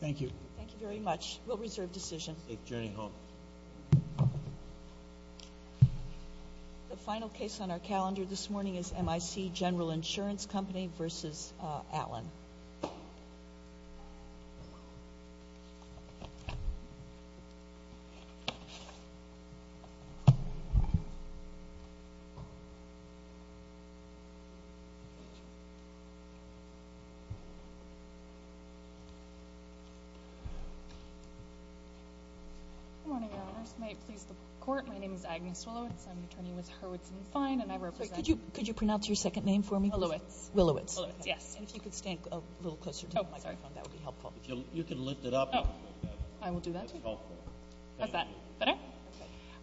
Thank you. Thank you very much. We'll reserve decision. Safe journey home. The final case on our calendar this morning is M.I.C. General Insurance Company v. Allen. My name is Agnes Willowitz, I'm an attorney with Hurwitz & Fine, and I represent... Could you pronounce your second name for me, please? Willowitz. Willowitz, yes. And if you could stand a little closer to the microphone, that would be helpful. Oh, sorry. You can lift it up. Oh. I will do that. That's helpful. How's that? Better?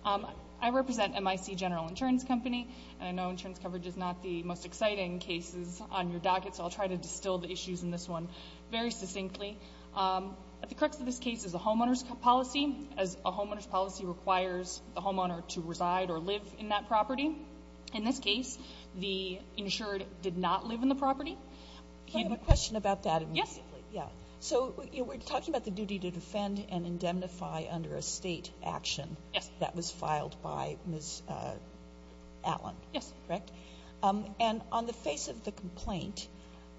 Okay. I represent M.I.C. General Insurance Company, and I know insurance coverage is not the most exciting cases on your docket, so I'll try to distill the issues in this one very succinctly. At the crux of this case is a homeowner's policy, as a homeowner's policy requires the homeowner to reside or live in that property. In this case, the insured did not live in the property. I have a question about that immediately. Yes. Yeah. So we're talking about the duty to defend and indemnify under a State action. Yes. That was filed by Ms. Allen. Yes. Correct? And on the face of the complaint,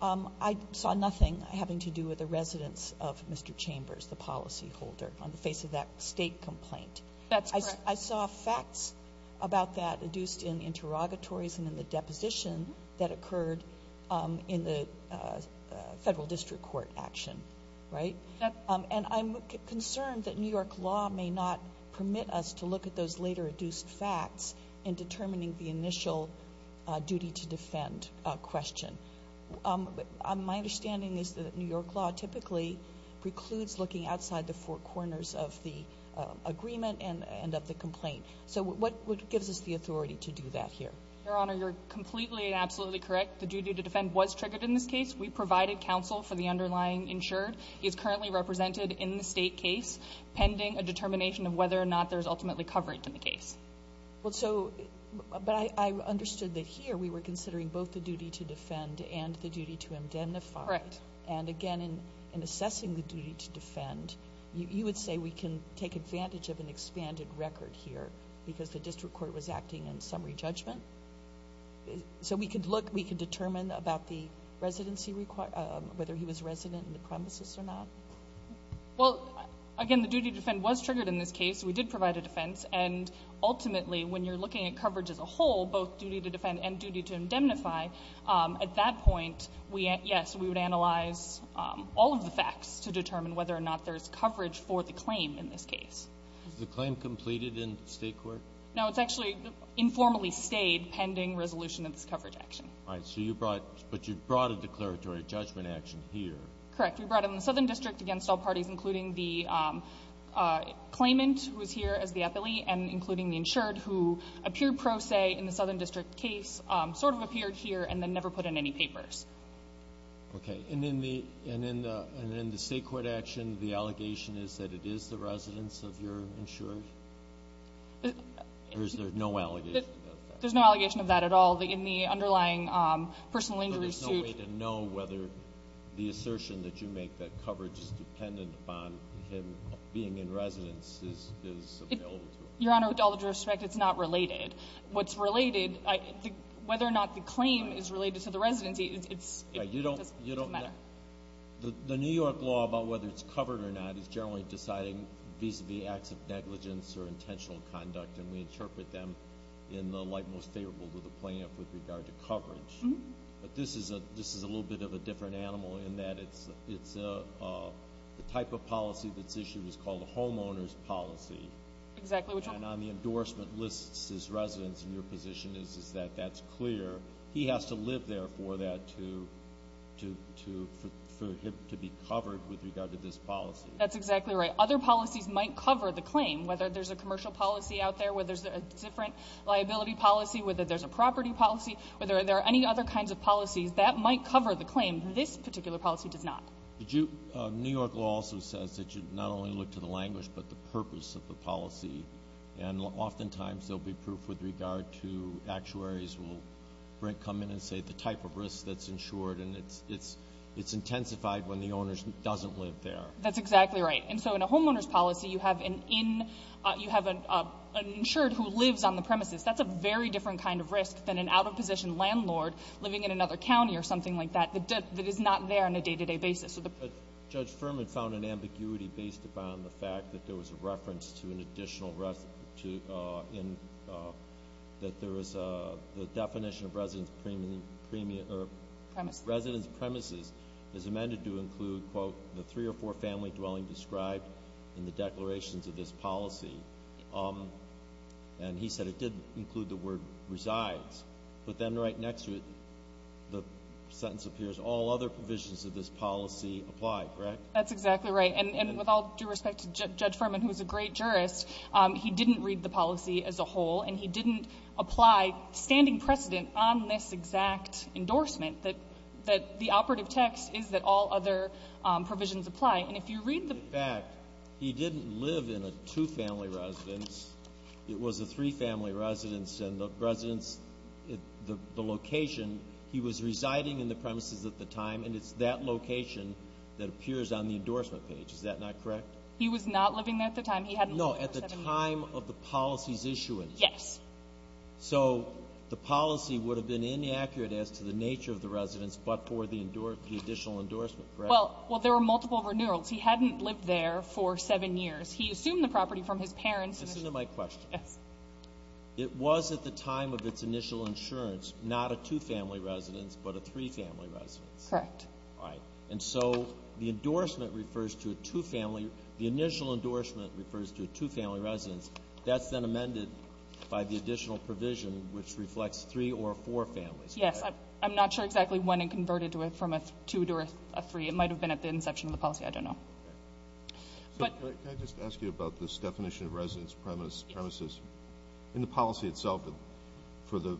I saw nothing having to do with the residence of Mr. Chambers, the policyholder, on the face of that State complaint. That's correct. But I saw facts about that adduced in interrogatories and in the deposition that occurred in the Federal District Court action, right? Yes. And I'm concerned that New York law may not permit us to look at those later adduced facts in determining the initial duty to defend question. My understanding is that New York law typically precludes looking outside the four corners of the agreement and of the complaint. So what gives us the authority to do that here? Your Honor, you're completely and absolutely correct. The duty to defend was triggered in this case. We provided counsel for the underlying insured. He is currently represented in the State case pending a determination of whether or not there's ultimately coverage in the case. But I understood that here we were considering both the duty to defend and the duty to indemnify. Correct. And, again, in assessing the duty to defend, you would say we can take advantage of an expanded record here because the District Court was acting in summary judgment? So we could look, we could determine about the residency, whether he was resident in the premises or not? Well, again, the duty to defend was triggered in this case. We did provide a defense. And ultimately, when you're looking at coverage as a whole, both duty to defend and duty to all of the facts to determine whether or not there's coverage for the claim in this case. Is the claim completed in the State court? No. It's actually informally stayed pending resolution of this coverage action. All right. So you brought, but you brought a declaratory judgment action here. Correct. We brought it in the Southern District against all parties, including the claimant who is here as the appellee and including the insured who appeared pro se in the Southern District case, sort of appeared here, and then never put in any papers. Okay. And in the State court action, the allegation is that it is the residence of your insured? Or is there no allegation of that? There's no allegation of that at all. In the underlying personal injury suit. So there's no way to know whether the assertion that you make that coverage is dependent upon him being in residence is available to us? Your Honor, with all due respect, it's not related. What's related, whether or not the claim is related to the residency, it's a matter The New York law about whether it's covered or not is generally deciding vis-a-vis acts of negligence or intentional conduct, and we interpret them in the light most favorable to the plaintiff with regard to coverage. But this is a little bit of a different animal in that it's the type of policy that's issued is called a homeowner's policy. Exactly. And on the endorsement lists as residence in your position is that that's clear. He has to live there for that to be covered with regard to this policy. That's exactly right. Other policies might cover the claim, whether there's a commercial policy out there, whether there's a different liability policy, whether there's a property policy, whether there are any other kinds of policies. That might cover the claim. This particular policy does not. New York law also says that you not only look to the language but the purpose of the policy. And oftentimes there will be proof with regard to actuaries will come in and say the type of risk that's insured, and it's intensified when the owner doesn't live there. That's exactly right. And so in a homeowner's policy, you have an insured who lives on the premises. That's a very different kind of risk than an out-of-position landlord living in another county or something like that that is not there on a day-to-day basis. Judge Furman found an ambiguity based upon the fact that there was a reference to an additional risk that there was a definition of resident's premises as amended to include, quote, the three or four family dwelling described in the declarations of this policy. And he said it did include the word resides. But then right next to it, the sentence appears, all other provisions of this policy apply, correct? That's exactly right. And with all due respect to Judge Furman, who is a great jurist, he didn't read the policy as a whole, and he didn't apply standing precedent on this exact endorsement that the operative text is that all other provisions apply. And if you read the ---- In fact, he didn't live in a two-family residence. It was a three-family residence, and the residence, the location, he was residing in the premises at the time, and it's that location that appears on the endorsement page. Is that not correct? He was not living there at the time. He hadn't lived there for seven years. No, at the time of the policy's issuance. Yes. So the policy would have been inaccurate as to the nature of the residence, but for the additional endorsement, correct? Well, there were multiple renewals. He hadn't lived there for seven years. He assumed the property from his parents. Listen to my question. Yes. It was at the time of its initial insurance, not a two-family residence, but a three-family residence. Correct. All right. And so the endorsement refers to a two-family. The initial endorsement refers to a two-family residence. That's then amended by the additional provision, which reflects three or four families, correct? Yes. I'm not sure exactly when it converted from a two to a three. It might have been at the inception of the policy. I don't know. Can I just ask you about this definition of residence premises? Yes. In the policy itself, for the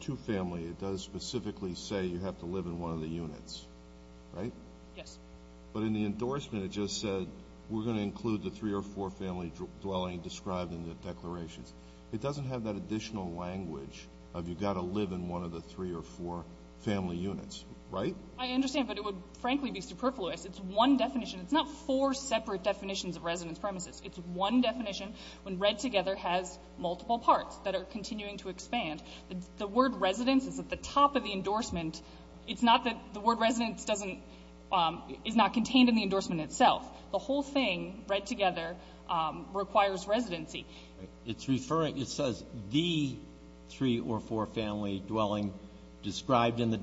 two-family, it does specifically say you have to live in one of the units, right? Yes. But in the endorsement, it just said we're going to include the three or four family dwelling described in the declarations. It doesn't have that additional language of you've got to live in one of the three or four family units, right? I understand, but it would, frankly, be superfluous. It's one definition. It's not four separate definitions of residence premises. It's one definition when Red Together has multiple parts that are continuing to expand. The word residence is at the top of the endorsement. It's not that the word residence doesn't – is not contained in the endorsement itself. The whole thing, Red Together, requires residency. It's referring – it says the three or four family dwelling described in the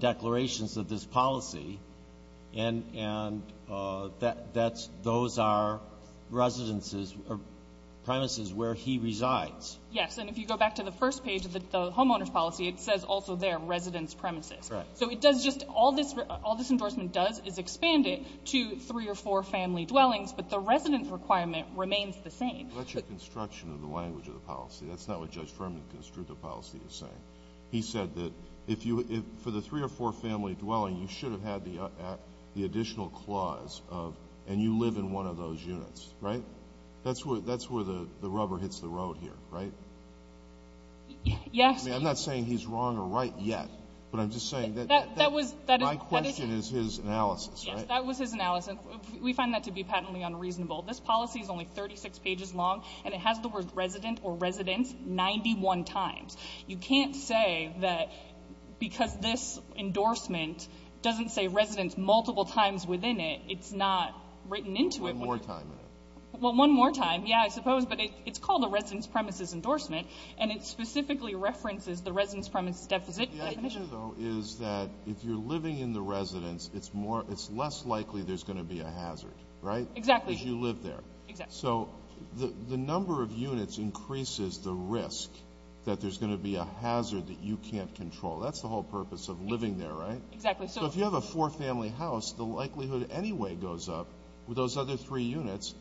That's – those are residences or premises where he resides. Yes. And if you go back to the first page of the homeowner's policy, it says also there residence premises. Right. So it does just – all this – all this endorsement does is expand it to three or four family dwellings, but the residence requirement remains the same. That's your construction of the language of the policy. That's not what Judge Ferman's constructive policy is saying. He said that if you – for the three or four family dwelling, you should have had the additional clause of – and you live in one of those units, right? That's where the rubber hits the road here, right? Yes. I mean, I'm not saying he's wrong or right yet, but I'm just saying that – That was – that is – My question is his analysis, right? Yes. That was his analysis. We find that to be patently unreasonable. This policy is only 36 pages long, and it has the word resident or residence 91 times. You can't say that because this endorsement doesn't say residence multiple times within it, it's not written into it. One more time in it. Well, one more time, yeah, I suppose, but it's called a residence premises endorsement, and it specifically references the residence premises definition. The idea, though, is that if you're living in the residence, it's more – it's less likely there's going to be a hazard, right? Exactly. Because you live there. Exactly. So the number of units increases the risk that there's going to be a hazard that you can't control. That's the whole purpose of living there, right? Exactly. So if you have a four-family house, the likelihood anyway goes up with those other three units,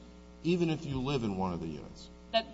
even if you live in one of the units. But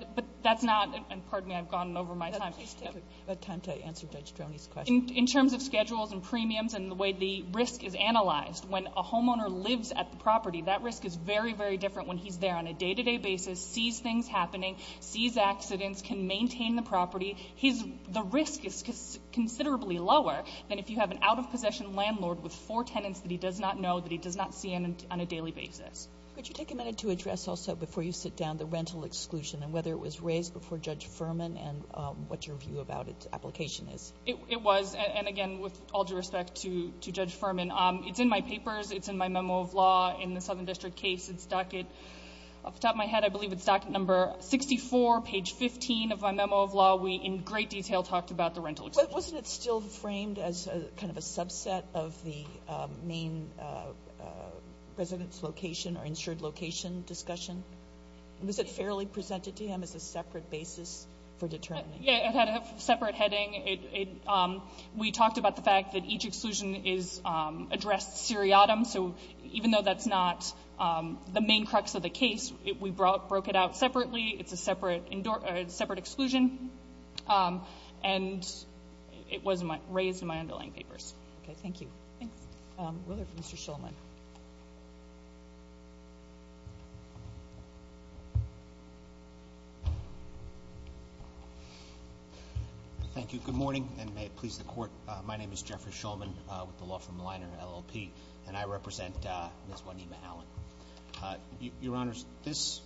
that's not – and pardon me, I've gone over my time. Please take the time to answer Judge Droney's question. In terms of schedules and premiums and the way the risk is analyzed, when a homeowner lives at the property, that risk is very, very different when he's there on a day-to-day basis, sees things happening, sees accidents, can maintain the property. The risk is considerably lower than if you have an out-of-possession landlord with four tenants that he does not know, that he does not see on a daily basis. Could you take a minute to address also, before you sit down, the rental exclusion and whether it was raised before Judge Furman and what your view about its application is? It was, and again, with all due respect to Judge Furman, it's in my papers, it's in my memo of law in the Southern District case. It's docket – off the top of my head, I believe it's docket number 64, page 15 of my memo of law. We, in great detail, talked about the rental exclusion. But wasn't it still framed as kind of a subset of the main residence location or insured location discussion? Was it fairly presented to him as a separate basis for determining? Yeah, it had a separate heading. We talked about the fact that each exclusion is addressed seriatim. So even though that's not the main crux of the case, we broke it out separately. It's a separate exclusion. And it was raised in my underlying papers. Okay. Thank you. Thanks. Ruler for Mr. Shulman. Thank you. Good morning, and may it please the Court. My name is Jeffrey Shulman with the Law Firm Liner, LLP, and I represent Ms. Juanita Allen. Your Honors, this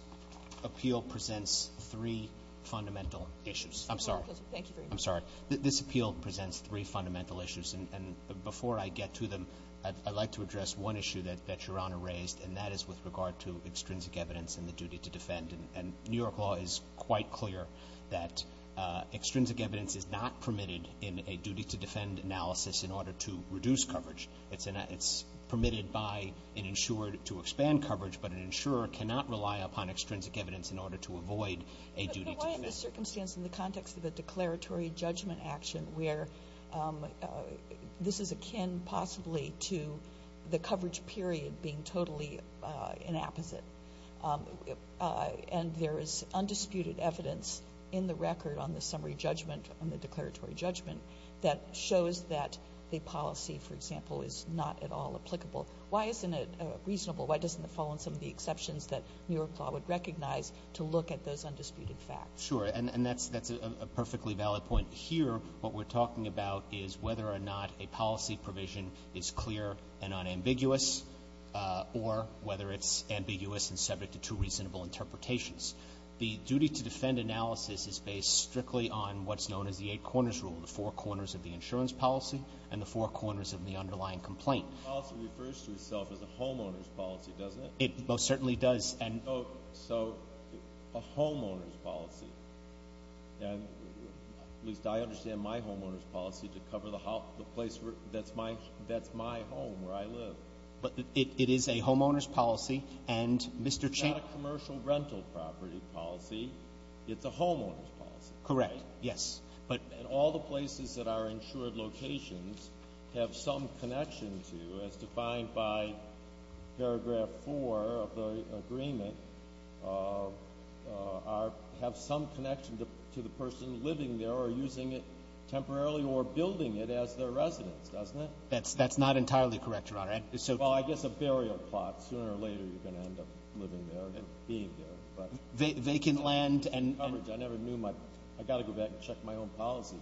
appeal presents three fundamental issues. I'm sorry. Thank you very much. I'm sorry. This appeal presents three fundamental issues, and before I get to them, I'd like to address one issue that Your Honor raised, and that is with regard to extrinsic evidence and the duty to defend. And New York law is quite clear that extrinsic evidence is not permitted in a duty to defend analysis in order to reduce coverage. It's permitted by an insurer to expand coverage, but an insurer cannot rely upon extrinsic evidence in order to avoid a duty to defend. Why in the circumstance in the context of a declaratory judgment action where this is akin possibly to the coverage period being totally inapposite, and there is undisputed evidence in the record on the summary judgment and the declaratory judgment that shows that the policy, for example, is not at all applicable. Why isn't it reasonable? Why doesn't it fall on some of the exceptions that New York law would recognize to look at those undisputed facts? Sure. And that's a perfectly valid point. Here what we're talking about is whether or not a policy provision is clear and unambiguous or whether it's ambiguous and subject to two reasonable interpretations. The duty to defend analysis is based strictly on what's known as the eight corners rule, the four corners of the insurance policy and the four corners of the underlying complaint. The policy refers to itself as a homeowner's policy, doesn't it? It most certainly does. And so a homeowner's policy, and at least I understand my homeowner's policy to cover the place where that's my home where I live. But it is a homeowner's policy. And, Mr. Chaffetz. It's not a commercial rental property policy. It's a homeowner's policy. Correct. Yes. And all the places that are insured locations have some connection to, as defined by paragraph four of the agreement, have some connection to the person living there or using it temporarily or building it as their residence, doesn't it? That's not entirely correct, Your Honor. Well, I guess a burial plot. Sooner or later you're going to end up living there or being there. Vacant land and — I never knew my — I've got to go back and check my own policy.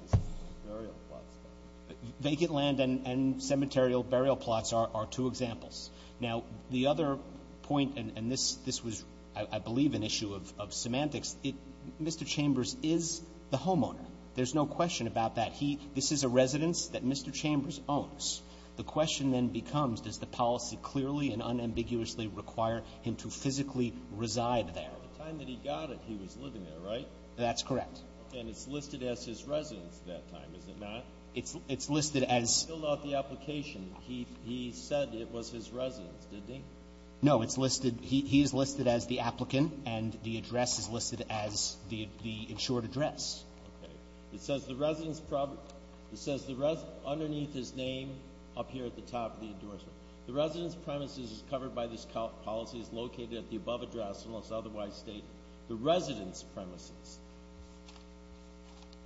Burial plots. Vacant land and cemeterial burial plots are two examples. Now, the other point, and this was, I believe, an issue of semantics, Mr. Chambers is the homeowner. There's no question about that. This is a residence that Mr. Chambers owns. The question then becomes, does the policy clearly and unambiguously require him to physically reside there? By the time that he got it, he was living there, right? That's correct. And it's listed as his residence at that time, is it not? It's listed as — He filled out the application. He said it was his residence, didn't he? No. It's listed — he is listed as the applicant, and the address is listed as the insured address. Okay. It says the residence — it says the — underneath his name up here at the top of the endorsement. The residence premises covered by this policy is located at the above address, unless otherwise stated, the residence premises.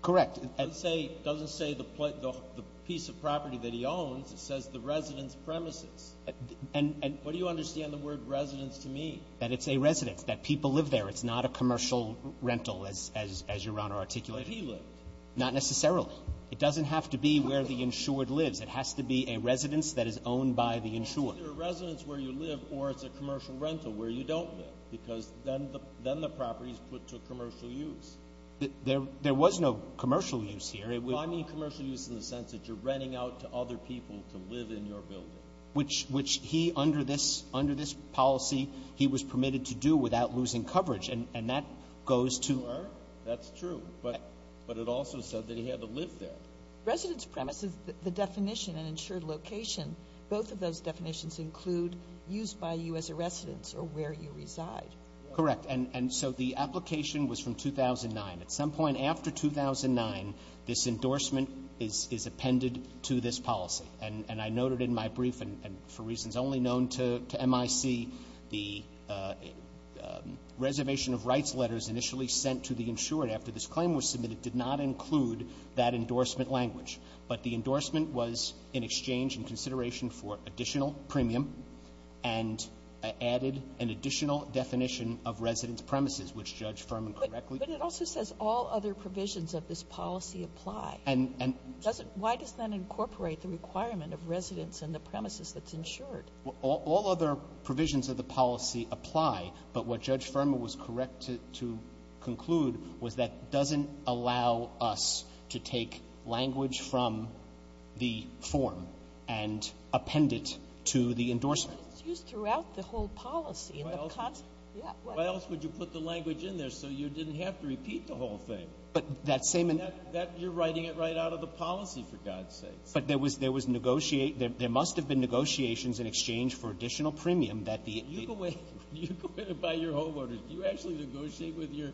Correct. It doesn't say the piece of property that he owns. It says the residence premises. And — and — What do you understand the word residence to mean? That it's a residence. That people live there. It's not a commercial rental, as Your Honor articulated. But he lived. Not necessarily. It doesn't have to be where the insured lives. It has to be a residence that is owned by the insured. It's either a residence where you live, or it's a commercial rental where you don't live, because then the property is put to commercial use. There was no commercial use here. It was — I mean commercial use in the sense that you're renting out to other people to live in your building. Which he, under this — under this policy, he was permitted to do without losing coverage. And that goes to — You are. That's true. But it also said that he had to live there. Residence premises, the definition and insured location, both of those definitions include used by you as a residence, or where you reside. Correct. And so the application was from 2009. At some point after 2009, this endorsement is — is appended to this policy. And I noted in my brief, and for reasons only known to M.I.C., the reservation of rights letters initially sent to the insured after this claim was submitted did not include that endorsement language. But the endorsement was in exchange and consideration for additional premium and added an additional definition of residence premises, which Judge Furman correctly — But it also says all other provisions of this policy apply. And — and — Why does that incorporate the requirement of residence and the premises that's insured? All other provisions of the policy apply, but what Judge Furman was correct to conclude was that doesn't allow us to take language from the form and append it to the endorsement. But it's used throughout the whole policy. Why else would you put the language in there so you didn't have to repeat the whole thing? But that same — You're writing it right out of the policy, for God's sakes. But there was — there was — there must have been negotiations in exchange for additional premium that the — When you go in — when you go in and buy your homeowners, do you actually negotiate with your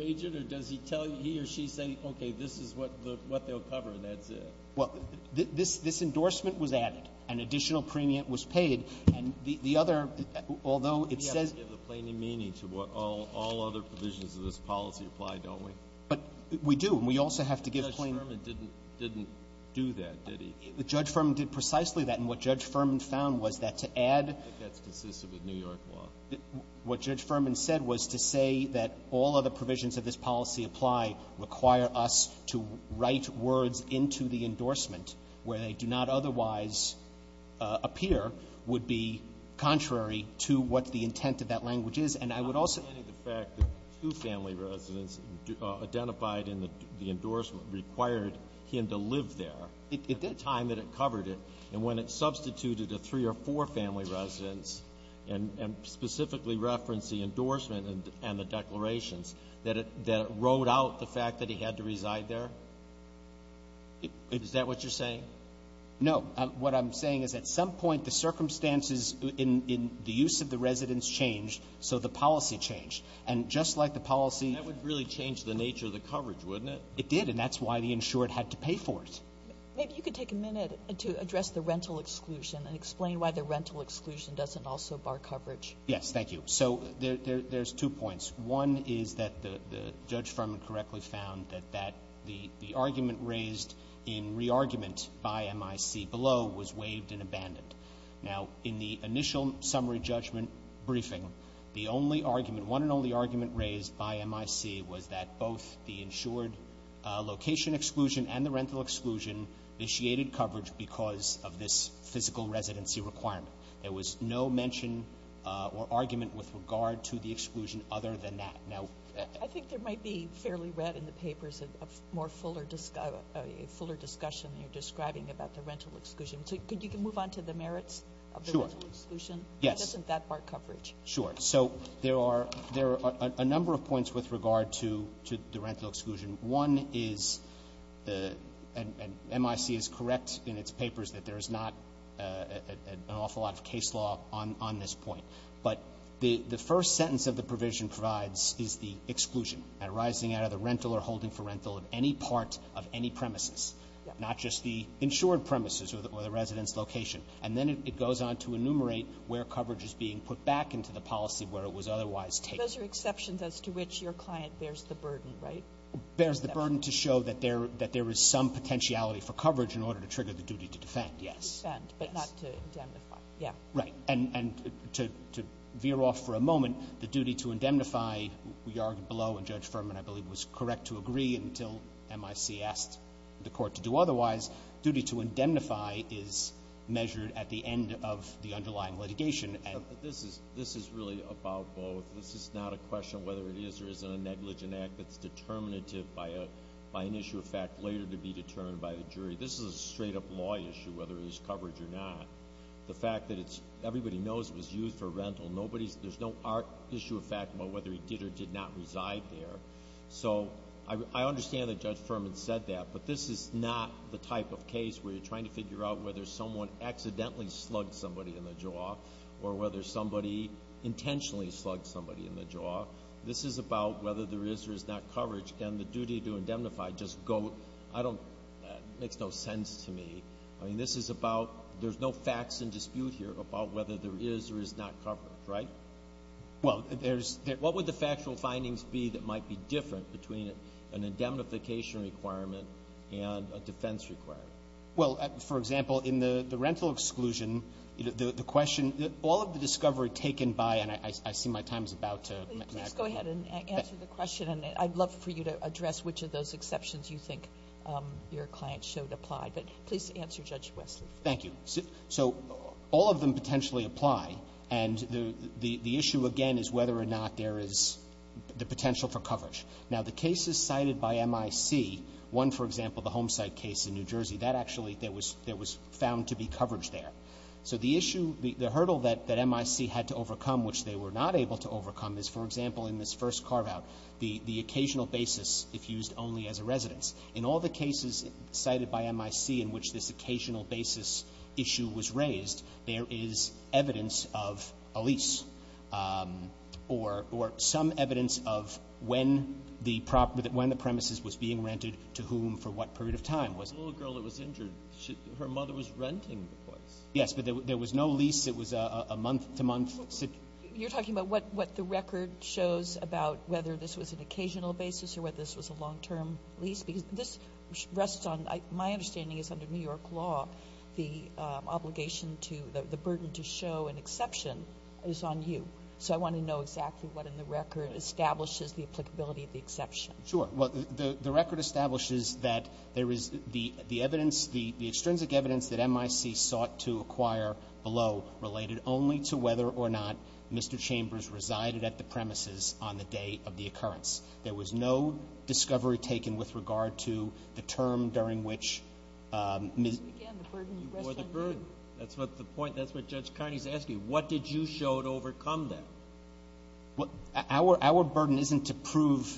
agent, or does he tell — he or she say, okay, this is what they'll cover, and that's it? Well, this — this endorsement was added. An additional premium was paid. And the other — although it says — We have to give the plaintiff meaning to what all other provisions of this policy apply, don't we? But we do. And we also have to give — Judge Furman didn't — didn't do that, did he? Judge Furman did precisely that. And what Judge Furman found was that to add — I think that's consistent with New York law. What Judge Furman said was to say that all other provisions of this policy apply require us to write words into the endorsement where they do not otherwise appear would be contrary to what the intent of that language is. And I would also — Notwithstanding the fact that two family residents identified in the endorsement required him to live there — It did. And when it substituted a three- or four-family residence and — and specifically referenced the endorsement and — and the declarations, that it — that it rode out the fact that he had to reside there? Is that what you're saying? No. What I'm saying is at some point the circumstances in — in the use of the residence changed, so the policy changed. And just like the policy — That would really change the nature of the coverage, wouldn't it? It did. And that's why the insured had to pay for it. Maybe you could take a minute to address the rental exclusion and explain why the rental exclusion doesn't also bar coverage. Yes. Thank you. So there — there's two points. One is that the — the Judge Furman correctly found that that — the — the argument raised in re-argument by MIC below was waived and abandoned. Now, in the initial summary judgment briefing, the only argument — one and only argument raised by MIC was that both the insured location exclusion and the rental exclusion initiated coverage because of this physical residency requirement. There was no mention or argument with regard to the exclusion other than that. Now — I think there might be, fairly read in the papers, a more fuller — a fuller discussion you're describing about the rental exclusion. So could — you can move on to the merits of the rental exclusion? Sure. Yes. Why doesn't that bar coverage? Sure. So there are — there are a number of points with regard to — to the rental exclusion. One is the — and MIC is correct in its papers that there is not an awful lot of case law on — on this point. But the — the first sentence of the provision provides is the exclusion arising out of the rental or holding for rental of any part of any premises, not just the insured premises or the — or the resident's location. And then it goes on to enumerate where coverage is being put back into the policy where it was otherwise taken. Those are exceptions as to which your client bears the burden, right? Bears the burden to show that there — that there is some potentiality for coverage in order to trigger the duty to defend, yes. Defend, but not to indemnify. Yeah. Right. And — and to — to veer off for a moment, the duty to indemnify, we argued below, and Judge Furman, I believe, was correct to agree until MIC asked the Court to do otherwise, duty to indemnify is measured at the end of the underlying litigation. This is — this is really about both. This is not a question of whether it is or isn't a negligent act that's determinative by a — by an issue of fact later to be determined by the jury. This is a straight-up law issue, whether there's coverage or not. The fact that it's — everybody knows it was used for rental. Nobody's — there's no art issue of fact about whether it did or did not reside there. So I — I understand that Judge Furman said that, but this is not the type of case where you're trying to figure out whether someone accidentally slugged somebody in the jaw or whether somebody intentionally slugged somebody in the jaw. This is about whether there is or is not coverage. Can the duty to indemnify just go — I don't — makes no sense to me. I mean, this is about — there's no facts in dispute here about whether there is or is not coverage, right? Well, there's — What would the factual findings be that might be different between an indemnification requirement and a defense requirement? Well, for example, in the rental exclusion, the question — all of the discovery taken by — and I see my time is about to — Please go ahead and answer the question, and I'd love for you to address which of those exceptions you think your client showed applied. But please answer, Judge Wesley. Thank you. So all of them potentially apply. And the issue, again, is whether or not there is the potential for coverage. Now, the cases cited by M.I.C., one, for example, the Homesite case in New Jersey, that actually — there was found to be coverage there. So the issue — the hurdle that M.I.C. had to overcome, which they were not able to overcome, is, for example, in this first carveout, the occasional basis if used only as a residence. In all the cases cited by M.I.C. in which this occasional basis issue was raised, there is evidence of a lease or some evidence of when the property — when the premises was being rented, to whom, for what period of time. It was a little girl that was injured. Her mother was renting the place. Yes. But there was no lease. It was a month-to-month situation. You're talking about what the record shows about whether this was an occasional basis or whether this was a long-term lease? Because this rests on — my understanding is, under New York law, the obligation to — the burden to show an exception is on you. So I want to know exactly what in the record establishes the applicability of the exception. Sure. Well, the record establishes that there is — the evidence — the extrinsic evidence that M.I.C. sought to acquire below related only to whether or not Mr. Chambers resided at the premises on the day of the occurrence. There was no discovery taken with regard to the term during which Ms. — Again, the burden rests on you. Or the burden. That's what the point — that's what Judge Carney is asking. What did you show to overcome that? Well, our — our burden isn't to prove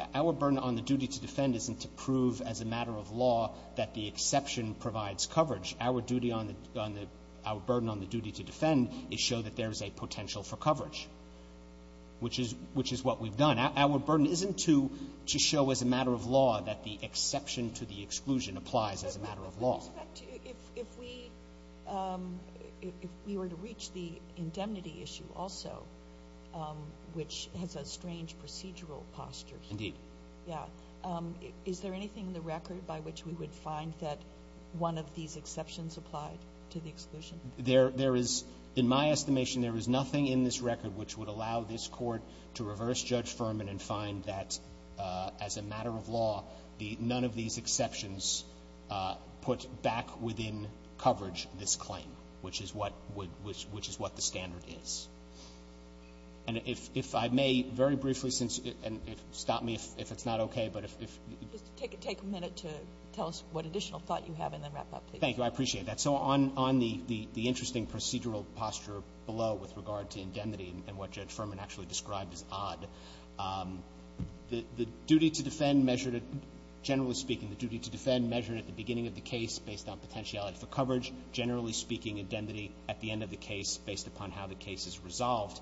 — our burden on the duty to defend isn't to prove as a matter of law that the exception provides coverage. Our duty on the — our burden on the duty to defend is show that there is a potential for coverage, which is — which is what we've done. Our burden isn't to show as a matter of law that the exception to the exclusion applies as a matter of law. But if we were to reach the indemnity issue also, which has a strange procedural posture — Indeed. Yeah. Is there anything in the record by which we would find that one of these exceptions applied to the exclusion? There is — in my estimation, there is nothing in this record which would allow this Court to reverse Judge Furman and find that as a matter of law, the — none of these exceptions put back within coverage this claim, which is what would — which is what the standard is. And if I may, very briefly, since — and stop me if it's not okay, but if — Just take a minute to tell us what additional thought you have and then wrap up, please. Thank you. I appreciate that. So on — on the — the interesting procedural posture below with regard to indemnity and what Judge Furman actually described as odd, the — the duty to defend measured at — generally speaking, the duty to defend measured at the beginning of the case based on potentiality for coverage. Generally speaking, indemnity at the end of the case based upon how the case is resolved.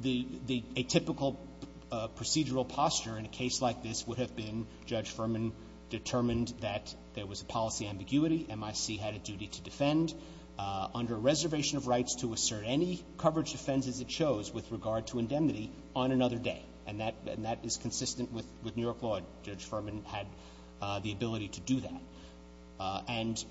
The — the — a typical procedural posture in a case like this would have been, Judge Furman determined that there was a policy ambiguity. MIC had a duty to defend. Under a reservation of rights to assert any coverage offenses it chose with regard to indemnity on another day. And that — and that is consistent with — with New York law. Judge Furman had the ability to do that. And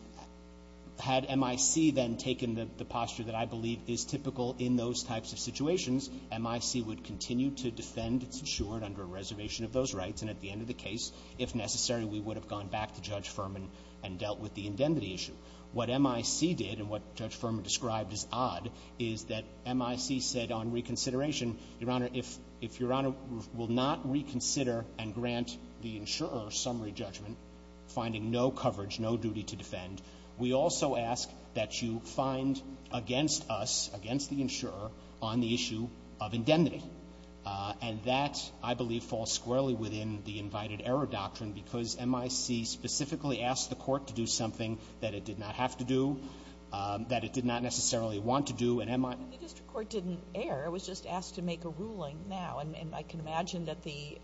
had MIC then taken the — the posture that I believe is typical in those types of situations, MIC would continue to defend its insured under a reservation of those rights. And at the end of the case, if necessary, we would have gone back to Judge Furman and dealt with the indemnity issue. What MIC did, and what Judge Furman described as odd, is that MIC said on reconsideration, Your Honor, if — if Your Honor will not reconsider and grant the insurer a summary judgment finding no coverage, no duty to defend, we also ask that you find against us, against the insurer, on the issue of indemnity. And that, I believe, falls squarely within the invited error doctrine because MIC specifically asked the court to do something that it did not have to do, that it did not necessarily want to do. And MIC — But the district court didn't err. It was just asked to make a ruling now. And I can imagine that the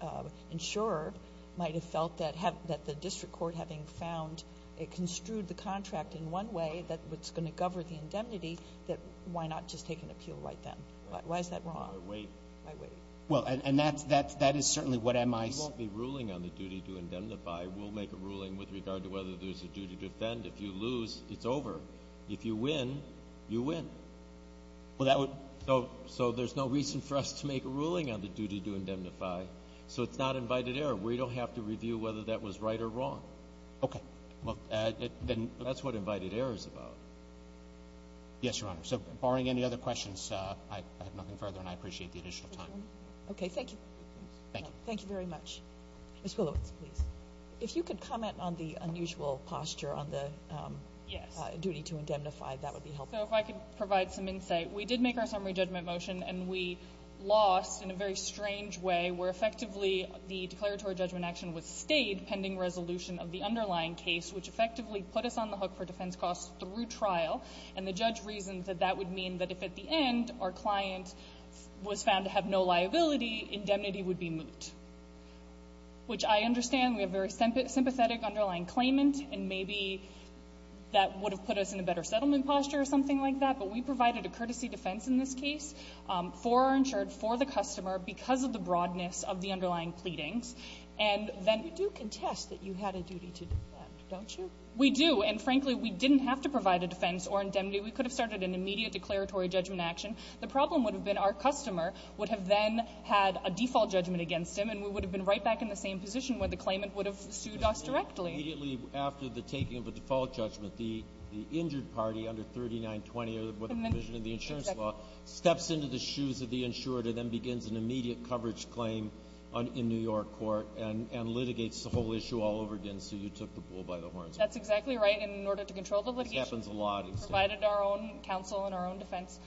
insurer might have felt that the district court, having found it construed the contract in one way that's going to govern the indemnity, that why not just take an appeal right then? Why is that wrong? Wait. Why wait? Well, and that's — that is certainly what MIC — I will make a ruling with regard to whether there's a duty to defend. If you lose, it's over. If you win, you win. Well, that would — So there's no reason for us to make a ruling on the duty to indemnify. So it's not invited error. We don't have to review whether that was right or wrong. Okay. Well, then that's what invited error is about. Yes, Your Honor. So barring any other questions, I have nothing further, and I appreciate the additional time. Okay. Thank you. Thank you. Thank you very much. Ms. Wheelowitz, please. If you could comment on the unusual posture on the — Yes. — duty to indemnify, that would be helpful. So if I could provide some insight. We did make our summary judgment motion, and we lost in a very strange way, where effectively the declaratory judgment action was stayed pending resolution of the underlying case, which effectively put us on the hook for defense costs through trial. And the judge reasoned that that would mean that if at the end our client was found to have no liability, indemnity would be moot, which I understand. We have very sympathetic underlying claimant, and maybe that would have put us in a better settlement posture or something like that. But we provided a courtesy defense in this case for our insured, for the customer, because of the broadness of the underlying pleadings. And then — But you do contest that you had a duty to defend, don't you? We do. And frankly, we didn't have to provide a defense or indemnity. We could have started an immediate declaratory judgment action. The problem would have been our customer would have then had a default judgment against him, and we would have been right back in the same position where the claimant would have sued us directly. Immediately after the taking of a default judgment, the injured party under 3920 or the provision of the insurance law steps into the shoes of the insured and then begins an immediate coverage claim in New York court and litigates the whole issue all over again. So you took the bull by the horns. And in order to control the litigation — This happens a lot. We provided our own counsel and our own defense,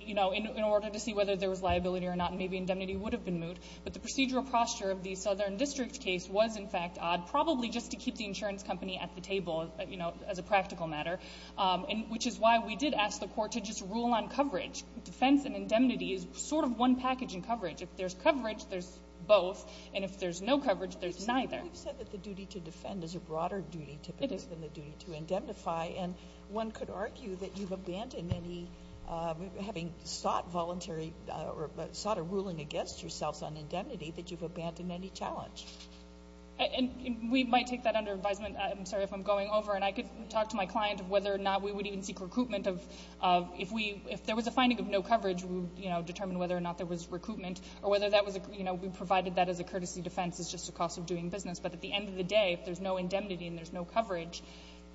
you know, in order to see whether there was liability or not. And maybe indemnity would have been moot. But the procedural posture of the Southern District case was, in fact, odd, probably just to keep the insurance company at the table, you know, as a practical matter, which is why we did ask the court to just rule on coverage. Defense and indemnity is sort of one package in coverage. If there's coverage, there's both. And if there's no coverage, there's neither. We've said that the duty to defend is a broader duty, typically — It is. — than to indemnify. And one could argue that you've abandoned any — having sought voluntary — sought a ruling against yourselves on indemnity, that you've abandoned any challenge. And we might take that under advisement. I'm sorry if I'm going over. And I could talk to my client of whether or not we would even seek recruitment of — if we — if there was a finding of no coverage, we would, you know, determine whether or not there was recruitment or whether that was a — you know, we provided that as a courtesy defense as just a cost of doing business. But at the end of the day, if there's no indemnity and there's no coverage —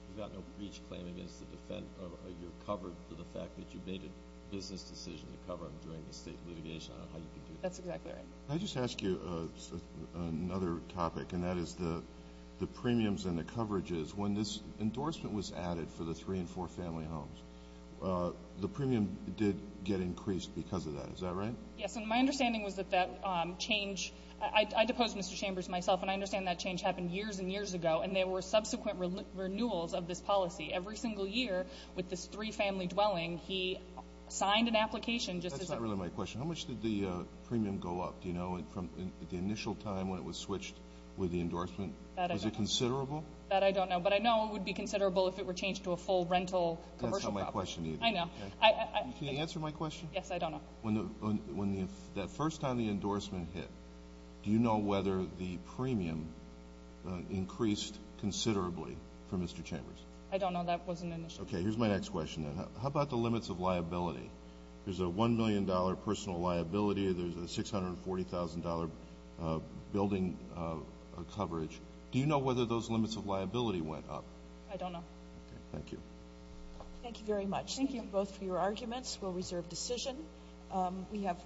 You've got no breach claim against the defense. You're covered for the fact that you made a business decision to cover them during the state litigation. I don't know how you can do that. That's exactly right. Can I just ask you another topic? And that is the premiums and the coverages. When this endorsement was added for the three- and four-family homes, the premium did get increased because of that. Is that right? Yes. And my understanding was that that change — I deposed Mr. Chambers myself. And I understand that change happened years and years ago. And there were subsequent renewals of this policy. Every single year, with this three-family dwelling, he signed an application just to — That's not really my question. How much did the premium go up, do you know, from the initial time when it was switched with the endorsement? That I don't know. Was it considerable? That I don't know. But I know it would be considerable if it were changed to a full rental commercial property. That's not my question either. I know. Can you answer my question? Yes, I don't know. When that first time the endorsement hit, do you know whether the premium increased considerably for Mr. Chambers? I don't know. That wasn't initial. Okay. Here's my next question, then. How about the limits of liability? There's a $1 million personal liability. There's a $640,000 building coverage. Do you know whether those limits of liability went up? Okay. Thank you. Thank you very much. Thank you both for your arguments. We'll reserve decision. We have.